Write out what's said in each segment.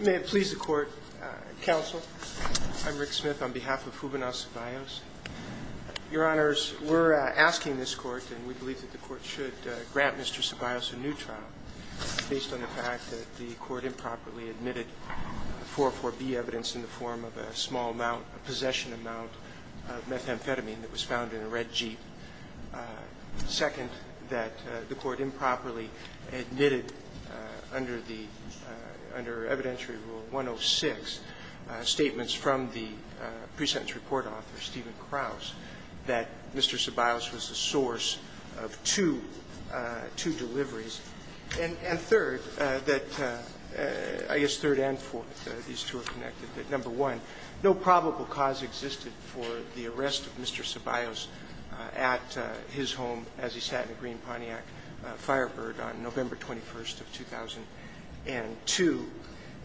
May it please the Court, Counsel. I'm Rick Smith on behalf of Juvenal Ceballos. Your Honors, we're asking this Court, and we believe that the Court should grant Mr. Ceballos a new trial based on the fact that the Court improperly admitted 4.4b evidence in the form of a small amount, a possession amount of methamphetamine that was found in a red Jeep. Second, that the Court improperly admitted under the under evidentiary rule 106 statements from the pre-sentence report author Stephen Krause that Mr. Ceballos was the source of two, two deliveries. And third, that I guess third and fourth, these two are connected, that number one, no probable cause existed for the arrest of Mr. Ceballos at his home as he sat in a green Pontiac Firebird on November 21st of 2002.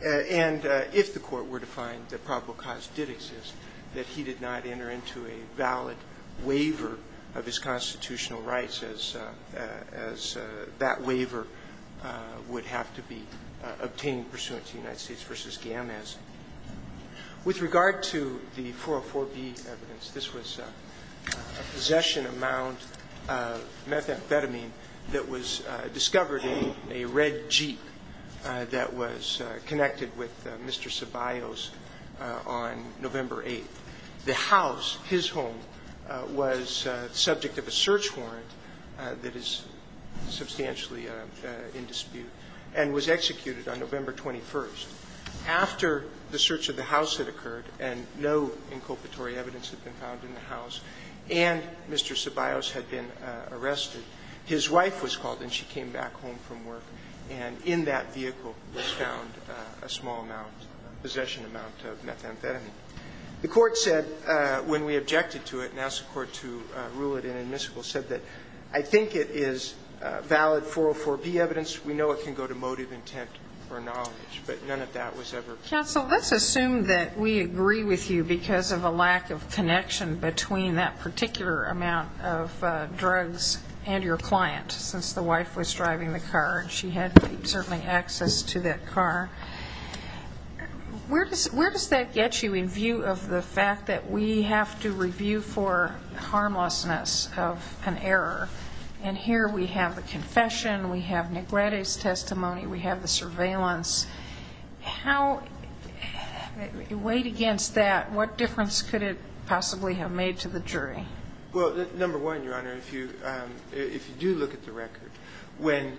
And if the Court were to find that probable cause did exist, that he did not enter into a valid waiver of his constitutional rights as that waiver would have to be obtained pursuant to United States v. Gammaz. With regard to the 4.4b evidence, this was a possession amount of methamphetamine that was discovered in a red Jeep that was connected with Mr. Ceballos on November 8th. The house, his home, was subject of a search warrant that is substantially in dispute and was executed on November 21st. After the search of the house had occurred and no inculpatory evidence had been found in the house and Mr. Ceballos had been arrested, his wife was called and she came back home from work, and in that vehicle was found a small amount, a possession amount of methamphetamine. The Court said when we objected to it and asked the Court to rule it inadmissible, said that I think it is valid 4.4b evidence. We know it can go to motive, intent, or knowledge, but none of that was ever found. Counsel, let's assume that we agree with you because of a lack of connection between that particular amount of drugs and your client, since the wife was driving the car and she had certainly access to that car. Where does that get you in view of the fact that we have to review for harmlessness of an error, and here we have the confession, we have Negrete's testimony, we have the surveillance, how, weighed against that, what difference could it possibly have made to the jury? Well, number one, Your Honor, if you do look at the record, when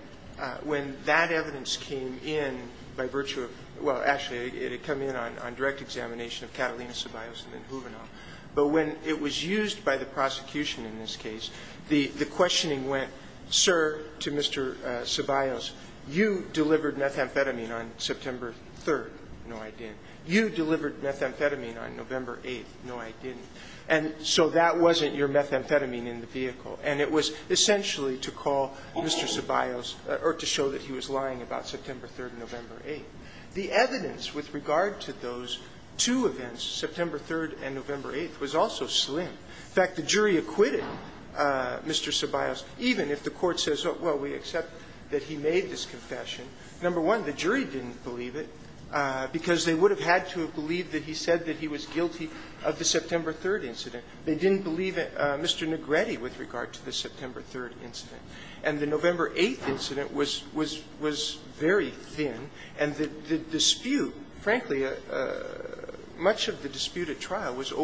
that evidence came in by virtue of, well, actually, it had come in on direct examination of Catalina Ceballos and then Juvenal, but when it was used by the prosecution in this case, the questioning went, sir, to Mr. Ceballos, you delivered methamphetamine on September 3rd. No, I didn't. You delivered methamphetamine on November 8th. No, I didn't. And so that wasn't your methamphetamine in the vehicle. And it was essentially to call Mr. Ceballos or to show that he was lying about September 3rd and November 8th. The evidence with regard to those two events, September 3rd and November 8th, was also slim. In fact, the jury acquitted Mr. Ceballos, even if the Court says, well, we accept that he made this confession. Number one, the jury didn't believe it, because they would have had to have believed that he said that he was guilty of the September 3rd incident. They didn't believe Mr. Negretti with regard to the September 3rd incident. And the November 8th incident was very thin, and the dispute, frankly, much of the issue was whether or not there was a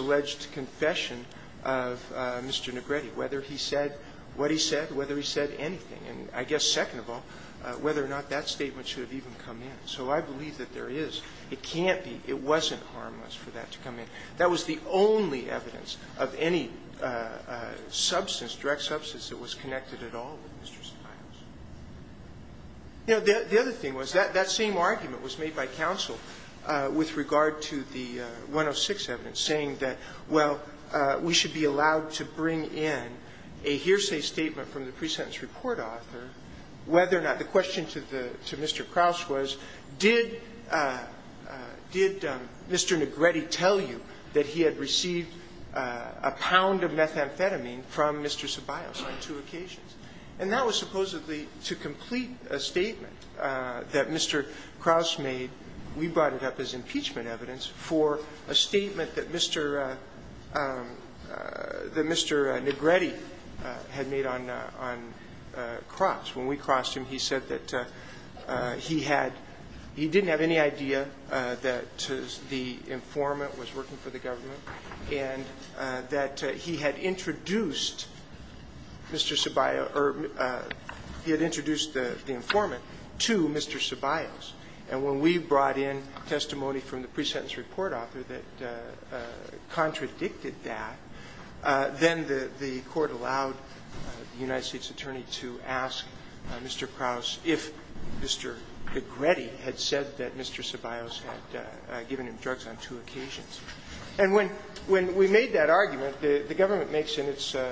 judged confession of Mr. Negretti, whether he said what he said, whether he said anything, and I guess, second of all, whether or not that statement should have even come in. So I believe that there is. It can't be – it wasn't harmless for that to come in. That was the only evidence of any substance, direct substance, that was connected at all with Mr. Ceballos. You know, the other thing was, that same argument was made by counsel with regard to the 106 evidence, saying that, well, we should be allowed to bring in a hearsay statement from the pre-sentence report author, whether or not the question to the – to Mr. Krauss was, did Mr. Negretti tell you that he had received a pound of methamphetamine from Mr. Ceballos on two occasions? And that was supposedly to complete a statement that Mr. Krauss made. We brought it up as impeachment evidence for a statement that Mr. – that Mr. Negretti had made on Krauss. When we crossed him, he said that he had – he didn't have any idea that the informant was working for the government, and that he had introduced Mr. Ceballos – or he had introduced the informant to Mr. Ceballos. And when we brought in testimony from the pre-sentence report author that contradicted that, then the Court allowed the United States attorney to ask Mr. Krauss if Mr. Negretti had said that Mr. Ceballos had given him drugs on two occasions. And when – when we made that argument, the government makes in its –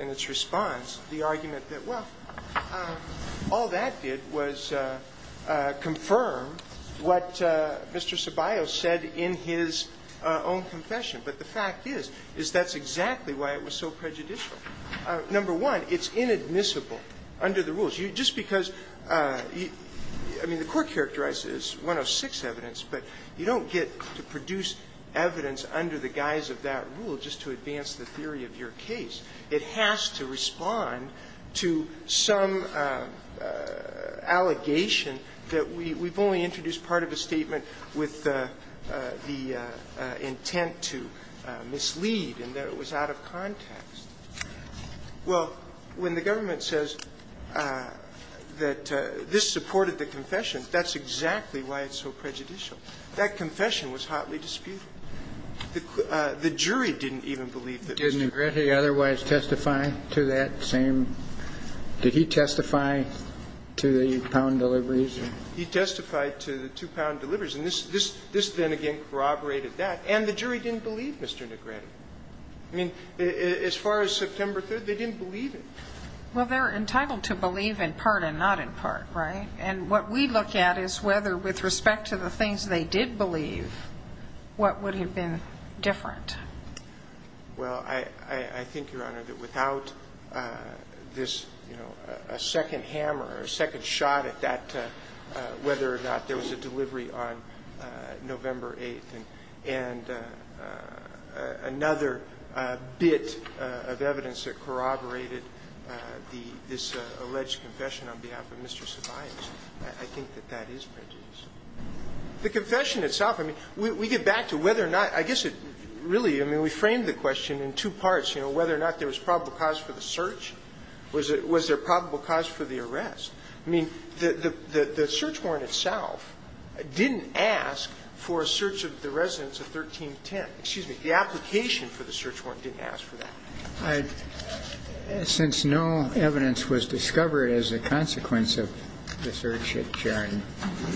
in its response the argument that, well, all that did was confirm what Mr. Ceballos said in his own confession. But the fact is, is that's exactly why it was so prejudicial. Just because – I mean, the Court characterized it as 106 evidence, but you don't get to produce evidence under the guise of that rule just to advance the theory of your case. It has to respond to some allegation that we've only introduced part of a statement with the intent to mislead and that it was out of context. Well, when the government says that this supported the confession, that's exactly why it's so prejudicial. That confession was hotly disputed. The jury didn't even believe that Mr. Ceballos had said that. Did Negretti otherwise testify to that same – did he testify to the pound deliveries? He testified to the two-pound deliveries. And this then again corroborated that. And the jury didn't believe Mr. Negretti. I mean, as far as September 3rd, they didn't believe it. Well, they're entitled to believe in part and not in part, right? And what we look at is whether with respect to the things they did believe, what would have been different? Well, I think, Your Honor, that without this – you know, a second hammer or a second shot at that, whether or not there was a delivery on November 8th and another bit of evidence that corroborated this alleged confession on behalf of Mr. Ceballos, I think that that is prejudicial. The confession itself, I mean, we get back to whether or not – I guess it really – I mean, we framed the question in two parts, you know, whether or not there was probable cause for the search. Was there probable cause for the arrest? I mean, the search warrant itself didn't ask for a search of the residents of 1310. Excuse me. The application for the search warrant didn't ask for that. Since no evidence was discovered as a consequence of the search at Jarden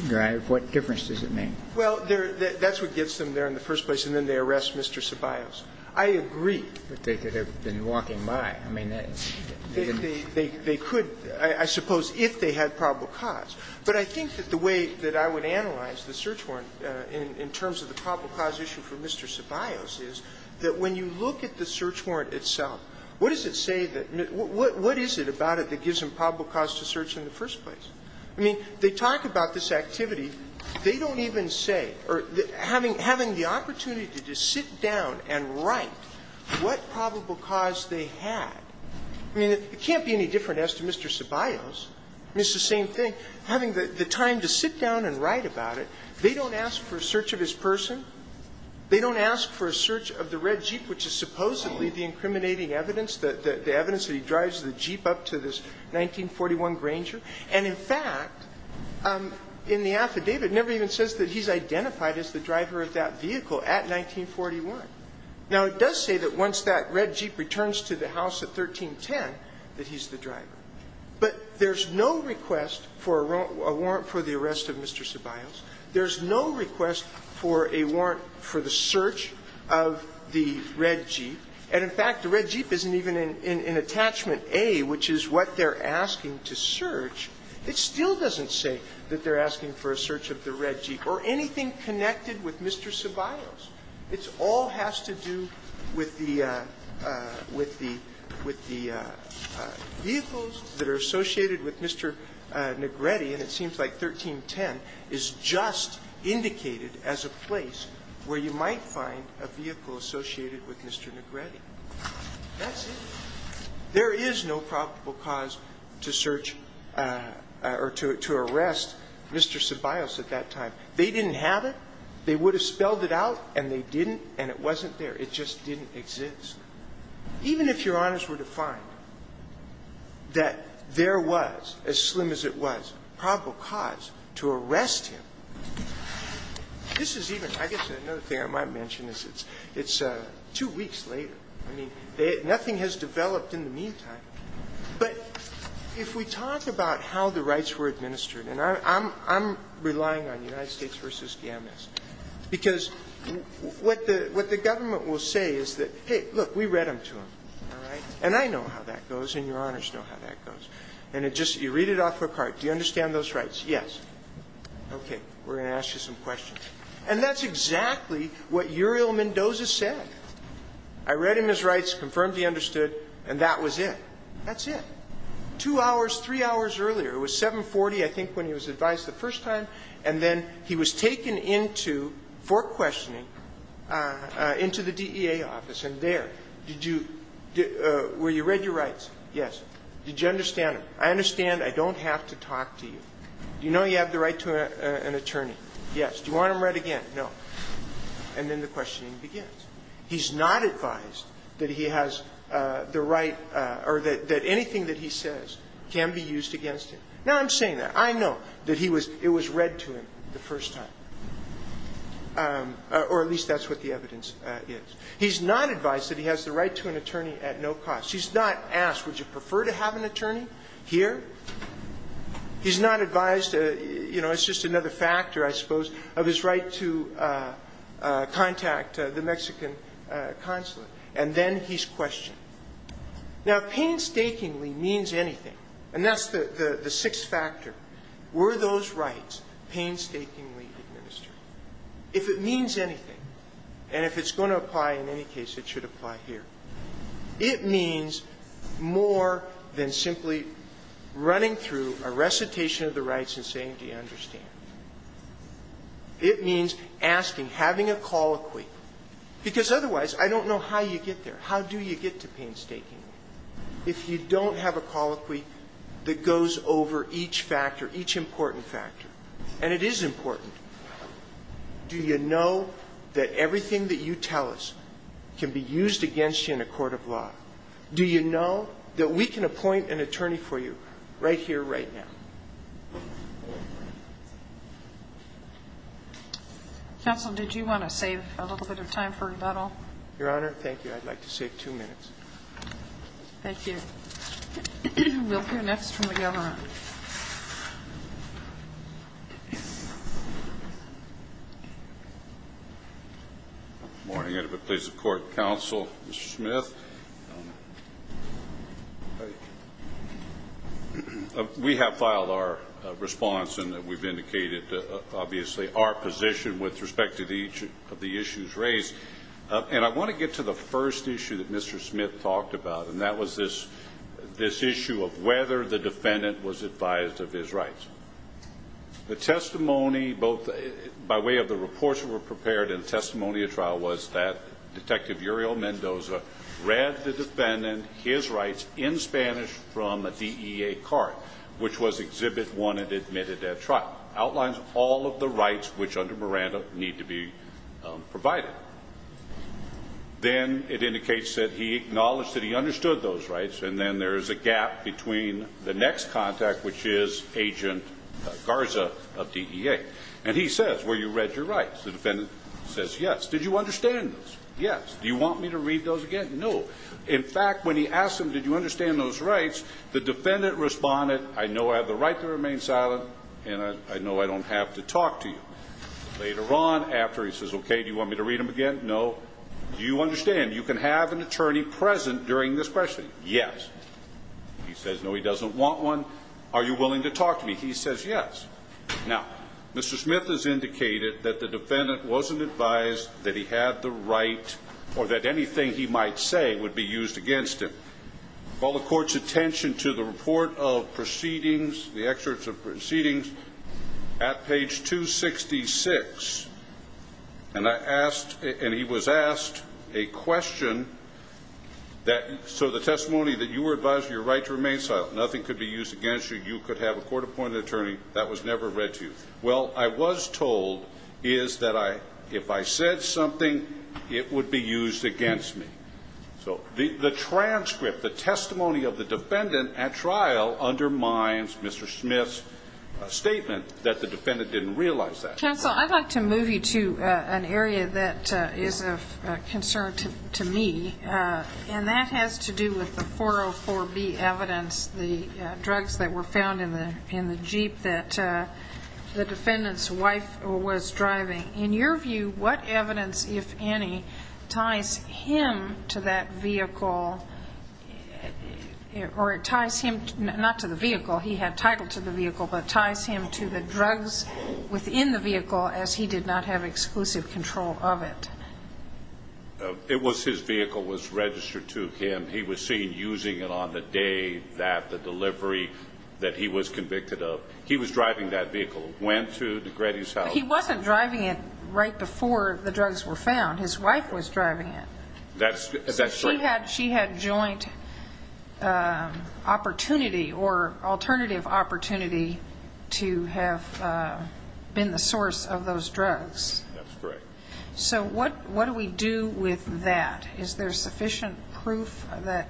Drive, what difference does it make? Well, that's what gets them there in the first place, and then they arrest Mr. Ceballos. I agree. But they could have been walking by. I mean, that's – They could, I suppose, if they had probable cause. But I think that the way that I would analyze the search warrant in terms of the probable cause issue for Mr. Ceballos is that when you look at the search warrant itself, what does it say that – what is it about it that gives them probable cause to search in the first place? I mean, they talk about this activity. They don't even say – or having the opportunity to just sit down and write what probable cause they had. I mean, it can't be any different as to Mr. Ceballos. It's the same thing. Having the time to sit down and write about it. They don't ask for a search of his person. They don't ask for a search of the red Jeep, which is supposedly the incriminating evidence, the evidence that he drives the Jeep up to this 1941 Granger. And in fact, in the affidavit, it never even says that he's identified as the driver of that vehicle at 1941. Now, it does say that once that red Jeep returns to the house at 1310 that he's the driver, but there's no request for a warrant for the arrest of Mr. Ceballos. There's no request for a warrant for the search of the red Jeep. And in fact, the red Jeep isn't even in Attachment A, which is what they're asking to search. It still doesn't say that they're asking for a search of the red Jeep or anything connected with Mr. Ceballos. It all has to do with the vehicles that are associated with Mr. Negrete, and it seems like 1310 is just indicated as a place where you might find a vehicle associated with Mr. Negrete. That's it. There is no probable cause to search or to arrest Mr. Ceballos at that time. They didn't have it. They would have spelled it out, and they didn't, and it wasn't there. It just didn't exist. Even if Your Honors were to find that there was, as slim as it was, probable cause to arrest him, this is even – I guess another thing I might mention is it's two weeks later. I mean, nothing has developed in the meantime. But if we talk about how the rights were administered, and I'm relying on United States, because what the government will say is that, hey, look, we read them to him, all right? And I know how that goes, and Your Honors know how that goes. And it just – you read it off a card. Do you understand those rights? Yes. Okay. We're going to ask you some questions. And that's exactly what Uriel Mendoza said. I read him his rights, confirmed he understood, and that was it. That's it. Two hours, three hours earlier, it was 740, I think, when he was advised the first time, and then he was taken into, for questioning, into the DEA office. And there, did you – were you read your rights? Yes. Did you understand them? I understand. I don't have to talk to you. Do you know you have the right to an attorney? Yes. Do you want them read again? No. And then the questioning begins. He's not advised that he has the right or that anything that he says can be used against him. Now, I'm saying that. I know that he was – it was read to him the first time. Or at least that's what the evidence is. He's not advised that he has the right to an attorney at no cost. He's not asked, would you prefer to have an attorney here? He's not advised, you know, it's just another factor, I suppose, of his right to contact the Mexican consulate. And then he's questioned. Now, painstakingly means anything. And that's the sixth factor. Were those rights painstakingly administered? If it means anything, and if it's going to apply in any case, it should apply here, it means more than simply running through a recitation of the rights and saying, do you understand? It means asking, having a call equate. Because otherwise, I don't know how you get there. How do you get to painstakingly? If you don't have a call equate that goes over each factor, each important factor, and it is important, do you know that everything that you tell us can be used against you in a court of law? Do you know that we can appoint an attorney for you right here, right now? Counsel, did you want to save a little bit of time for that all? Your Honor, thank you. I'd like to save two minutes. Thank you. We'll hear next from the Governor. Good morning. And if it pleases the Court, Counsel, Mr. Smith. We have filed our response, and we've indicated obviously our position with respect to each of the issues raised. And I want to get to the first issue that Mr. Smith talked about, and that was this issue of whether the defendant was advised of his rights. The testimony both by way of the reports that were prepared and the testimony of trial was that Detective Uriel Mendoza read the defendant his rights in Spanish from a DEA card, which was exhibit one and admitted at trial. Outlines all of the rights which under Miranda need to be provided. Then it indicates that he acknowledged that he understood those rights, and then there's a gap between the next contact, which is Agent Garza of DEA. And he says, well, you read your rights. The defendant says, yes. Did you understand those? Yes. Do you want me to read those again? No. In fact, when he asked him, did you understand those rights, the defendant responded, I know I have the right to remain silent, and I know I don't have to talk to you. Later on, after he says, okay, do you want me to read them again? No. Do you understand? You can have an attorney present during this questioning. Yes. He says, no, he doesn't want one. Are you willing to talk to me? He says, yes. Now, Mr. Smith has indicated that the defendant wasn't advised that he had the right or that anything he might say would be used against him. Call the court's attention to the report of proceedings, the excerpts of proceedings at page 266. And I asked, and he was asked a question that, so the testimony that you were advised of your right to remain silent, nothing could be used against you, you could have a court-appointed attorney, that was never read to you. Well, I was told is that if I said something, it would be used against me. So the transcript, the testimony of the defendant at trial undermines Mr. Smith's statement that the defendant didn't realize that. Counsel, I'd like to move you to an area that is of concern to me, and that has to do with the 404B evidence, the drugs that were found in the Jeep that the defendant's wife was driving. In your view, what evidence, if any, ties him to that vehicle or ties him not to the vehicle, he had title to the vehicle, but ties him to the drugs within the vehicle as he did not have exclusive control of it? It was his vehicle, was registered to him. He was seen using it on the day that the delivery that he was convicted of, he was driving that vehicle, went to the Grady's house. But he wasn't driving it right before the drugs were found. His wife was driving it. That's right. She had joint opportunity or alternative opportunity to have been the source of those drugs. That's correct. So what do we do with that? Is there sufficient proof that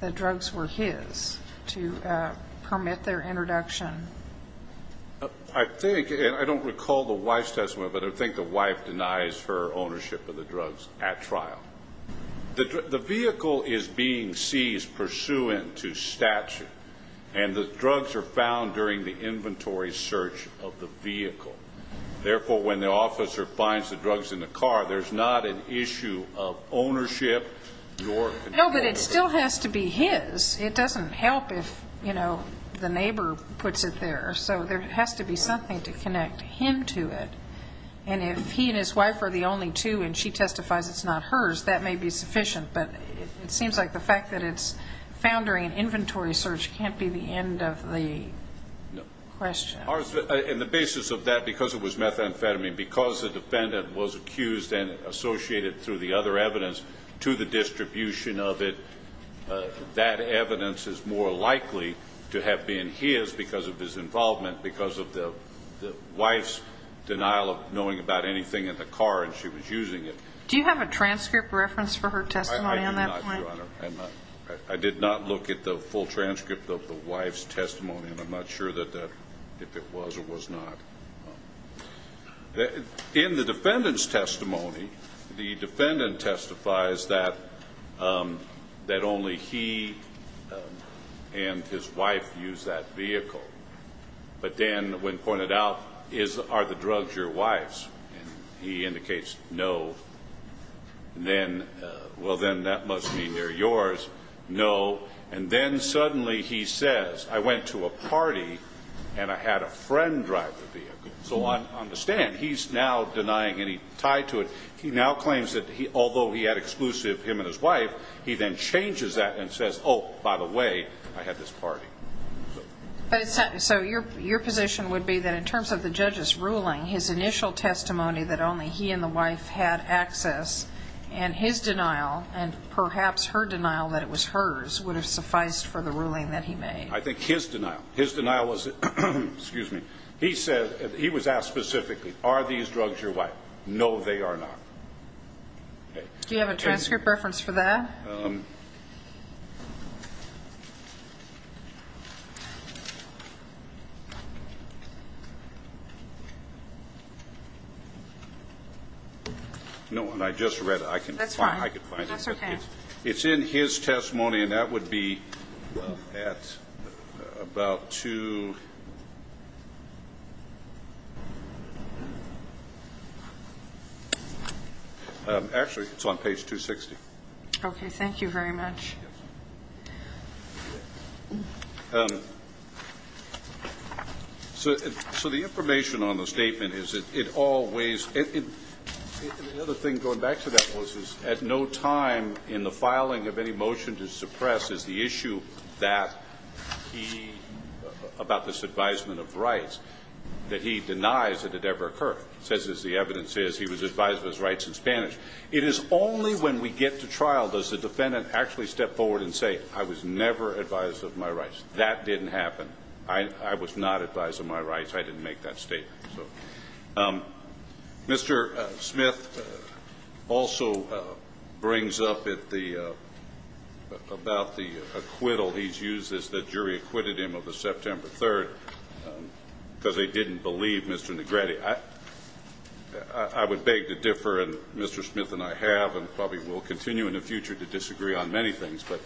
the drugs were his to permit their introduction? I think, and I don't recall the wife's testimony, but I think the wife denies her ownership of the drugs at trial. The vehicle is being seized pursuant to statute, and the drugs are found during the inventory search of the vehicle. Therefore, when the officer finds the drugs in the car, there's not an issue of ownership. No, but it still has to be his. It doesn't help if, you know, the neighbor puts it there. So there has to be something to connect him to it. And if he and his wife are the only two and she testifies it's not hers, that may be sufficient. But it seems like the fact that it's found during an inventory search can't be the end of the question. And the basis of that, because it was methamphetamine, because the defendant was accused and associated through the other evidence to the evidence is more likely to have been his because of his involvement, because of the wife's denial of knowing about anything in the car and she was using it. Do you have a transcript reference for her testimony on that point? I do not, Your Honor. I did not look at the full transcript of the wife's testimony, and I'm not sure if it was or was not. In the defendant's testimony, the defendant testifies that only he and his wife used that vehicle. But then when pointed out, are the drugs your wife's? And he indicates no. And then, well, then that must mean they're yours. No. And then suddenly he says, I went to a party and I had a friend drive the vehicle. So I understand. He's now denying any tie to it. He now claims that although he had exclusive him and his wife, he then changes that and says, oh, by the way, I had this party. So your position would be that in terms of the judge's ruling, his initial testimony that only he and the wife had access and his denial and perhaps her denial that it was hers would have sufficed for the ruling that he made? I think his denial. His denial was, excuse me, he said, he was asked specifically, are these drugs your wife? No, they are not. Do you have a transcript reference for that? No, and I just read it. That's fine. I can find it. That's okay. It's in his testimony, and that would be at about two. Actually, it's on page 260. Okay. Thank you very much. So the information on the statement is that it always – another thing going back to that, Melissa, is at no time in the filing of any motion to suppress is the issue that he – about this advisement of rights that he denies that it ever occurred. It says, as the evidence says, he was advised of his rights in Spanish. It is only when we get to trial does the defendant actually step forward and say, I was never advised of my rights. That didn't happen. I was not advised of my rights. I didn't make that statement. So Mr. Smith also brings up at the – about the acquittal he's used as the jury acquitted him of the September 3rd because they didn't believe Mr. Negrete. I would beg to differ, and Mr. Smith and I have and probably will continue in the future to disagree on many things. But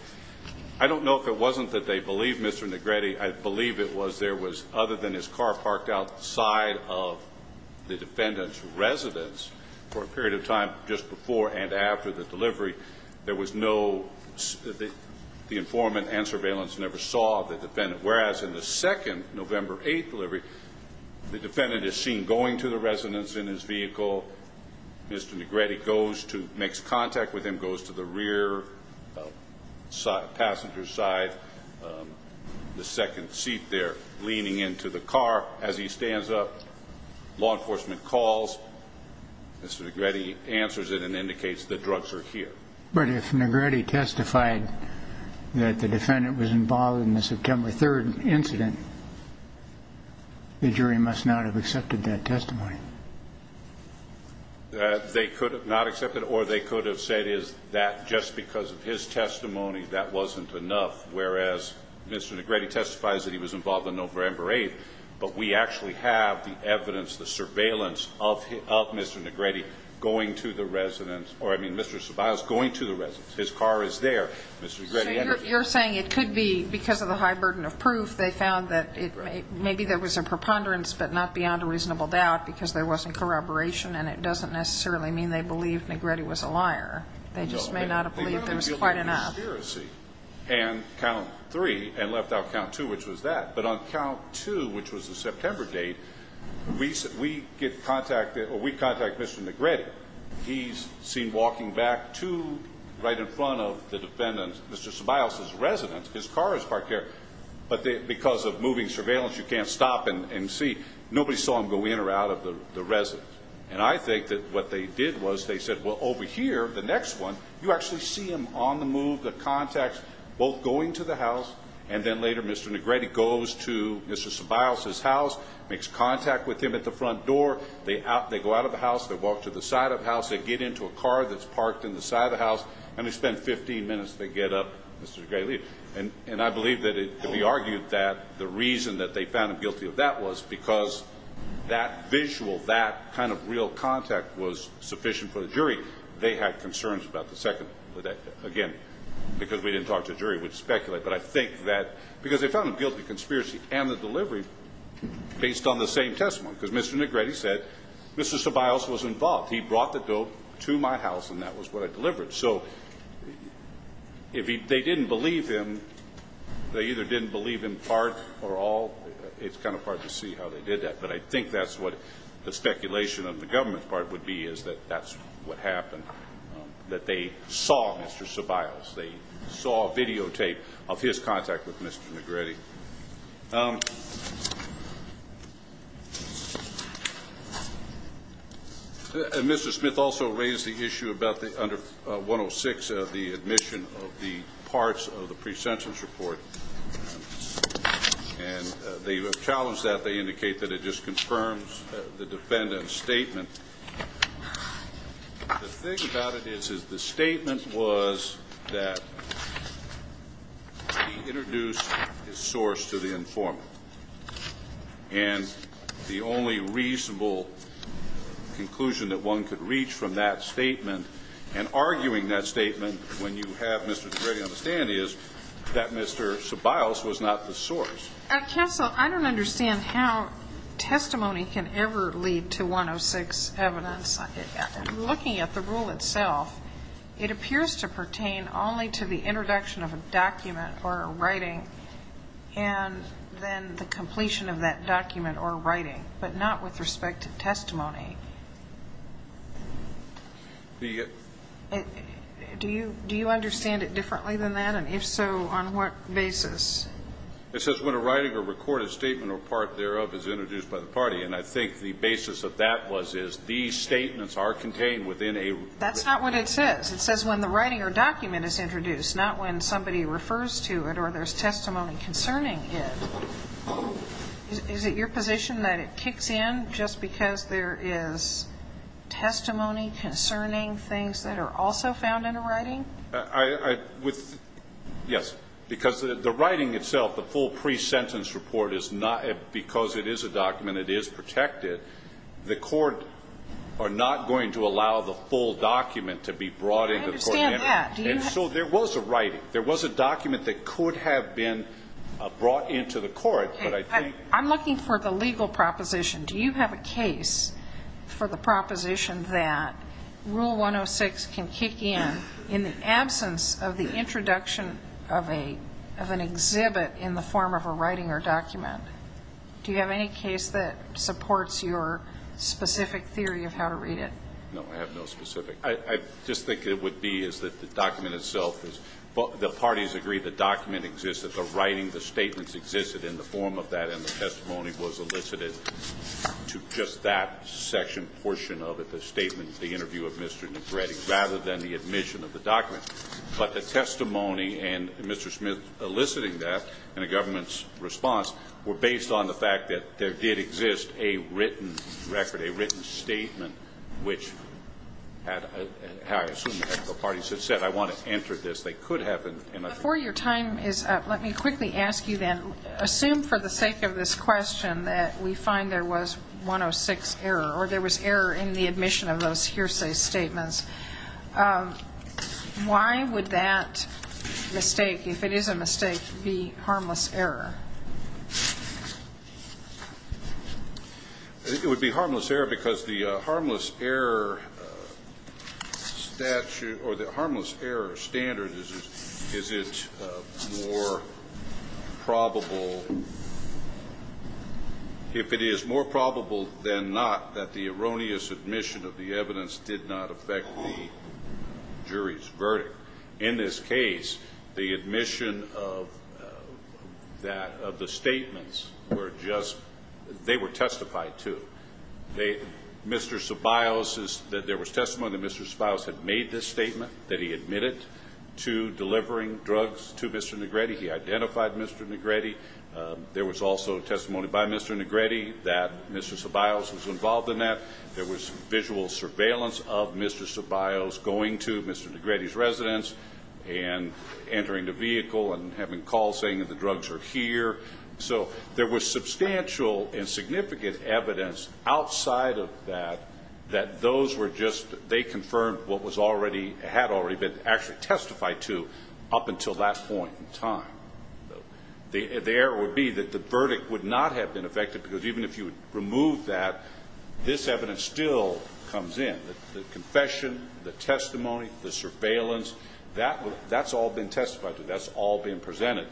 I don't know if it wasn't that they believed Mr. Negrete. I believe it was there was – other than his car parked outside of the defendant's residence for a period of time just before and after the delivery, there was no – the informant and surveillance never saw the defendant. Whereas, in the second November 8th delivery, the defendant is seen going to the residence in his vehicle. Mr. Negrete goes to – makes contact with him, goes to the rear passenger side, the second seat there, leaning into the car. As he stands up, law enforcement calls. Mr. Negrete answers it and indicates the drugs are here. But if Negrete testified that the defendant was involved in the September 3rd incident, the jury must not have accepted that testimony. They could have not accepted it or they could have said is that just because of his testimony that wasn't enough, whereas Mr. Negrete testifies that he was involved in November 8th, but we actually have the evidence, the surveillance of Mr. Negrete going to the residence – or, I mean, Mr. Ceballos going to the residence. His car is there. Mr. Negrete – So you're saying it could be because of the high burden of proof they found that it – maybe there was a preponderance but not beyond a reasonable doubt because there wasn't corroboration and it doesn't necessarily mean they believe Negrete was a liar. They just may not have believed there was quite enough. No. They literally feel there was a conspiracy and count three and left out count two, which was that. We contact Mr. Negrete. He's seen walking back to right in front of the defendant, Mr. Ceballos' residence. His car is parked there. But because of moving surveillance, you can't stop and see. Nobody saw him go in or out of the residence. And I think that what they did was they said, well, over here, the next one, you actually see him on the move. The contacts both going to the house and then later Mr. Negrete goes to Mr. Ceballos' house, makes contact with him at the front door. They go out of the house. They walk to the side of the house. They get into a car that's parked in the side of the house, and they spend 15 minutes to get up Mr. Negrete. And I believe that we argued that the reason that they found him guilty of that was because that visual, that kind of real contact was sufficient for the jury. They had concerns about the second, again, because we didn't talk to the jury. We'd speculate. But I think that because they found him guilty of the conspiracy and the delivery based on the same testimony, because Mr. Negrete said Mr. Ceballos was involved. He brought the dope to my house, and that was what I delivered. So if they didn't believe him, they either didn't believe him part or all. It's kind of hard to see how they did that. But I think that's what the speculation of the government's part would be, is that that's what happened, that they saw Mr. Ceballos. They saw videotape of his contact with Mr. Negrete. And Mr. Smith also raised the issue about the under 106, the admission of the parts of the pre-sentence report. And they challenged that. They indicate that it just confirms the defendant's statement. The thing about it is, is the statement was that he introduced his source to the informant. And the only reasonable conclusion that one could reach from that statement and arguing that statement when you have Mr. Negrete on the stand is that Mr. Ceballos was not the source. Counsel, I don't understand how testimony can ever lead to 106 evidence. I'm looking at the rule itself. It appears to pertain only to the introduction of a document or a writing and then the completion of that document or writing, but not with respect to testimony. Do you understand it differently than that? And if so, on what basis? It says when a writing or recorded statement or part thereof is introduced by the party. And I think the basis of that was is these statements are contained within a written document. That's not what it says. It says when the writing or document is introduced, not when somebody refers to it or there's testimony concerning it. Is it your position that it kicks in just because there is testimony concerning things that are also found in a writing? Yes, because the writing itself, the full pre-sentence report, because it is a document, it is protected. The court are not going to allow the full document to be brought into the court. I understand that. And so there was a writing. There was a document that could have been brought into the court. I'm looking for the legal proposition. Do you have a case for the proposition that Rule 106 can kick in, in the absence of the introduction of an exhibit in the form of a writing or document? Do you have any case that supports your specific theory of how to read it? No, I have no specific. I just think it would be is that the document itself is the parties agree the document exists, that the writing, the statements existed in the form of that, and the testimony was elicited to just that section, portion of it, the statement, the interview of Mr. Negrete, rather than the admission of the document. But the testimony and Mr. Smith eliciting that in a government's response were based on the fact that there did exist a written record, a written statement, which had I assume the parties had said, I want to enter this. They could have. Before your time is up, let me quickly ask you then, assume for the sake of this question that we find there was 106 error, or there was error in the admission of those hearsay statements. Why would that mistake, if it is a mistake, be harmless error? It would be harmless error because the harmless error statute or the harmless error standard is it more probable, if it is more probable than not, that the erroneous admission of the evidence did not affect the jury's verdict. In this case, the admission of the statements were just, they were testified to. Mr. Ceballos, there was testimony that Mr. Ceballos had made this statement that he admitted to delivering drugs to Mr. Negrete. He identified Mr. Negrete. There was also testimony by Mr. Negrete that Mr. Ceballos was involved in that. There was visual surveillance of Mr. Ceballos going to Mr. Negrete's residence and entering the vehicle and having calls saying that the drugs are here. So there was substantial and significant evidence outside of that, that those were just, they confirmed what was already, had already been actually testified to up until that point in time. The error would be that the verdict would not have been affected because even if you removed that, this evidence still comes in. The confession, the testimony, the surveillance, that's all been testified to. That's all been presented.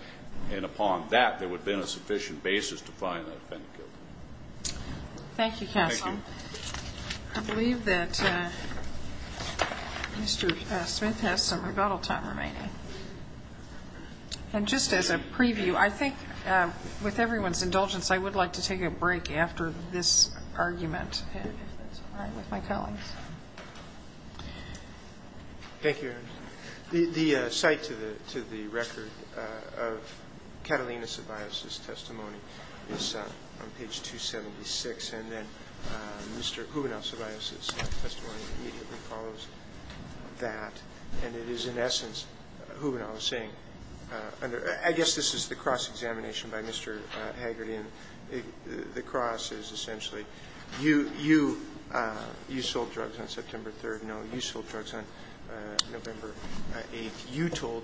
And upon that, there would have been a sufficient basis to find the defendant guilty. Thank you, counsel. Thank you. I believe that Mr. Smith has some rebuttal time remaining. And just as a preview, I think with everyone's indulgence, I would like to take a break after this argument with my colleagues. Thank you. The cite to the record of Catalina Ceballos' testimony is on page 276. And then Mr. Hubenow Ceballos' testimony immediately follows that. And it is, in essence, Hubenow saying, I guess this is the cross-examination by Mr. Haggerty. And the cross is essentially, you sold drugs on September 3rd. No, you sold drugs on November 8th. You told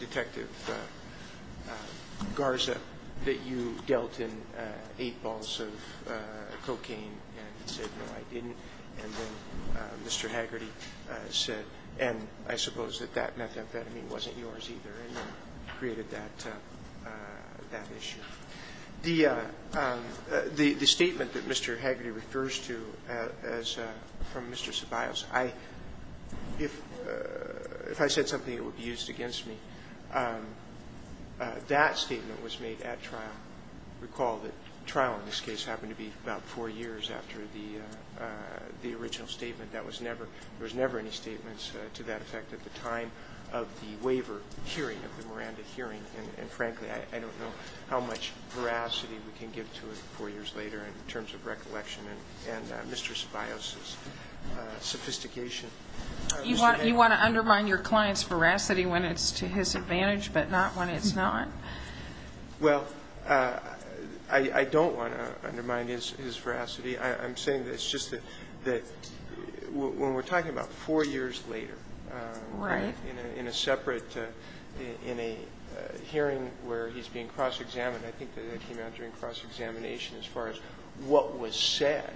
Detective Garza that you dealt in eight balls of cocaine. And he said, no, I didn't. And then Mr. Haggerty said, and I suppose that that methamphetamine wasn't yours either, and then created that issue. The statement that Mr. Haggerty refers to from Mr. Ceballos, if I said something that would be used against me, that statement was made at trial. I recall that trial in this case happened to be about four years after the original statement. There was never any statements to that effect at the time of the waiver hearing of the Miranda hearing. And, frankly, I don't know how much veracity we can give to it four years later in terms of recollection and Mr. Ceballos' sophistication. You want to undermine your client's veracity when it's to his advantage but not when it's not? Well, I don't want to undermine his veracity. I'm saying that it's just that when we're talking about four years later in a separate, in a hearing where he's being cross-examined, I think that that came out during cross-examination as far as what was said,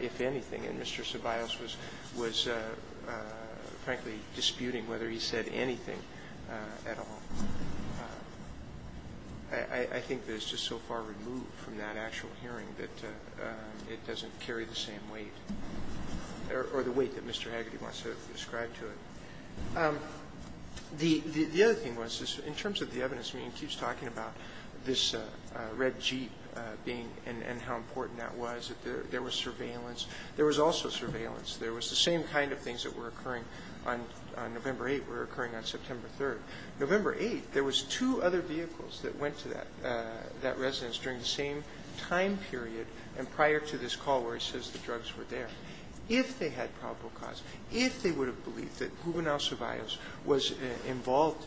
if anything. And Mr. Ceballos was, frankly, disputing whether he said anything at all. I think that it's just so far removed from that actual hearing that it doesn't carry the same weight or the weight that Mr. Haggerty wants to describe to it. The other thing was, in terms of the evidence, I mean, he keeps talking about this red Jeep being and how important that was, that there was surveillance. There was also surveillance. There was the same kind of things that were occurring on November 8th were occurring on September 3rd. November 8th, there was two other vehicles that went to that residence during the same time period and prior to this call where he says the drugs were there. If they had probable cause, if they would have believed that Juvenal Survios was involved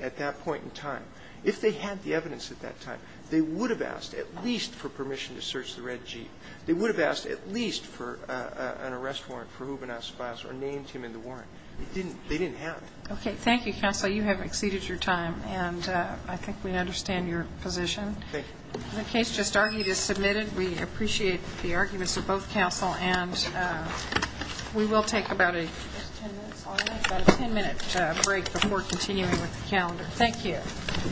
at that point in time, if they had the evidence at that time, they would have asked at least for permission to search the red Jeep. They would have asked at least for an arrest warrant for Juvenal Survios or named him in the warrant. They didn't have it. Okay. Thank you, counsel. You have exceeded your time. And I think we understand your position. Thank you. The case just argued is submitted. We appreciate the arguments of both counsel. And we will take about a 10-minute break before continuing with the calendar. Thank you.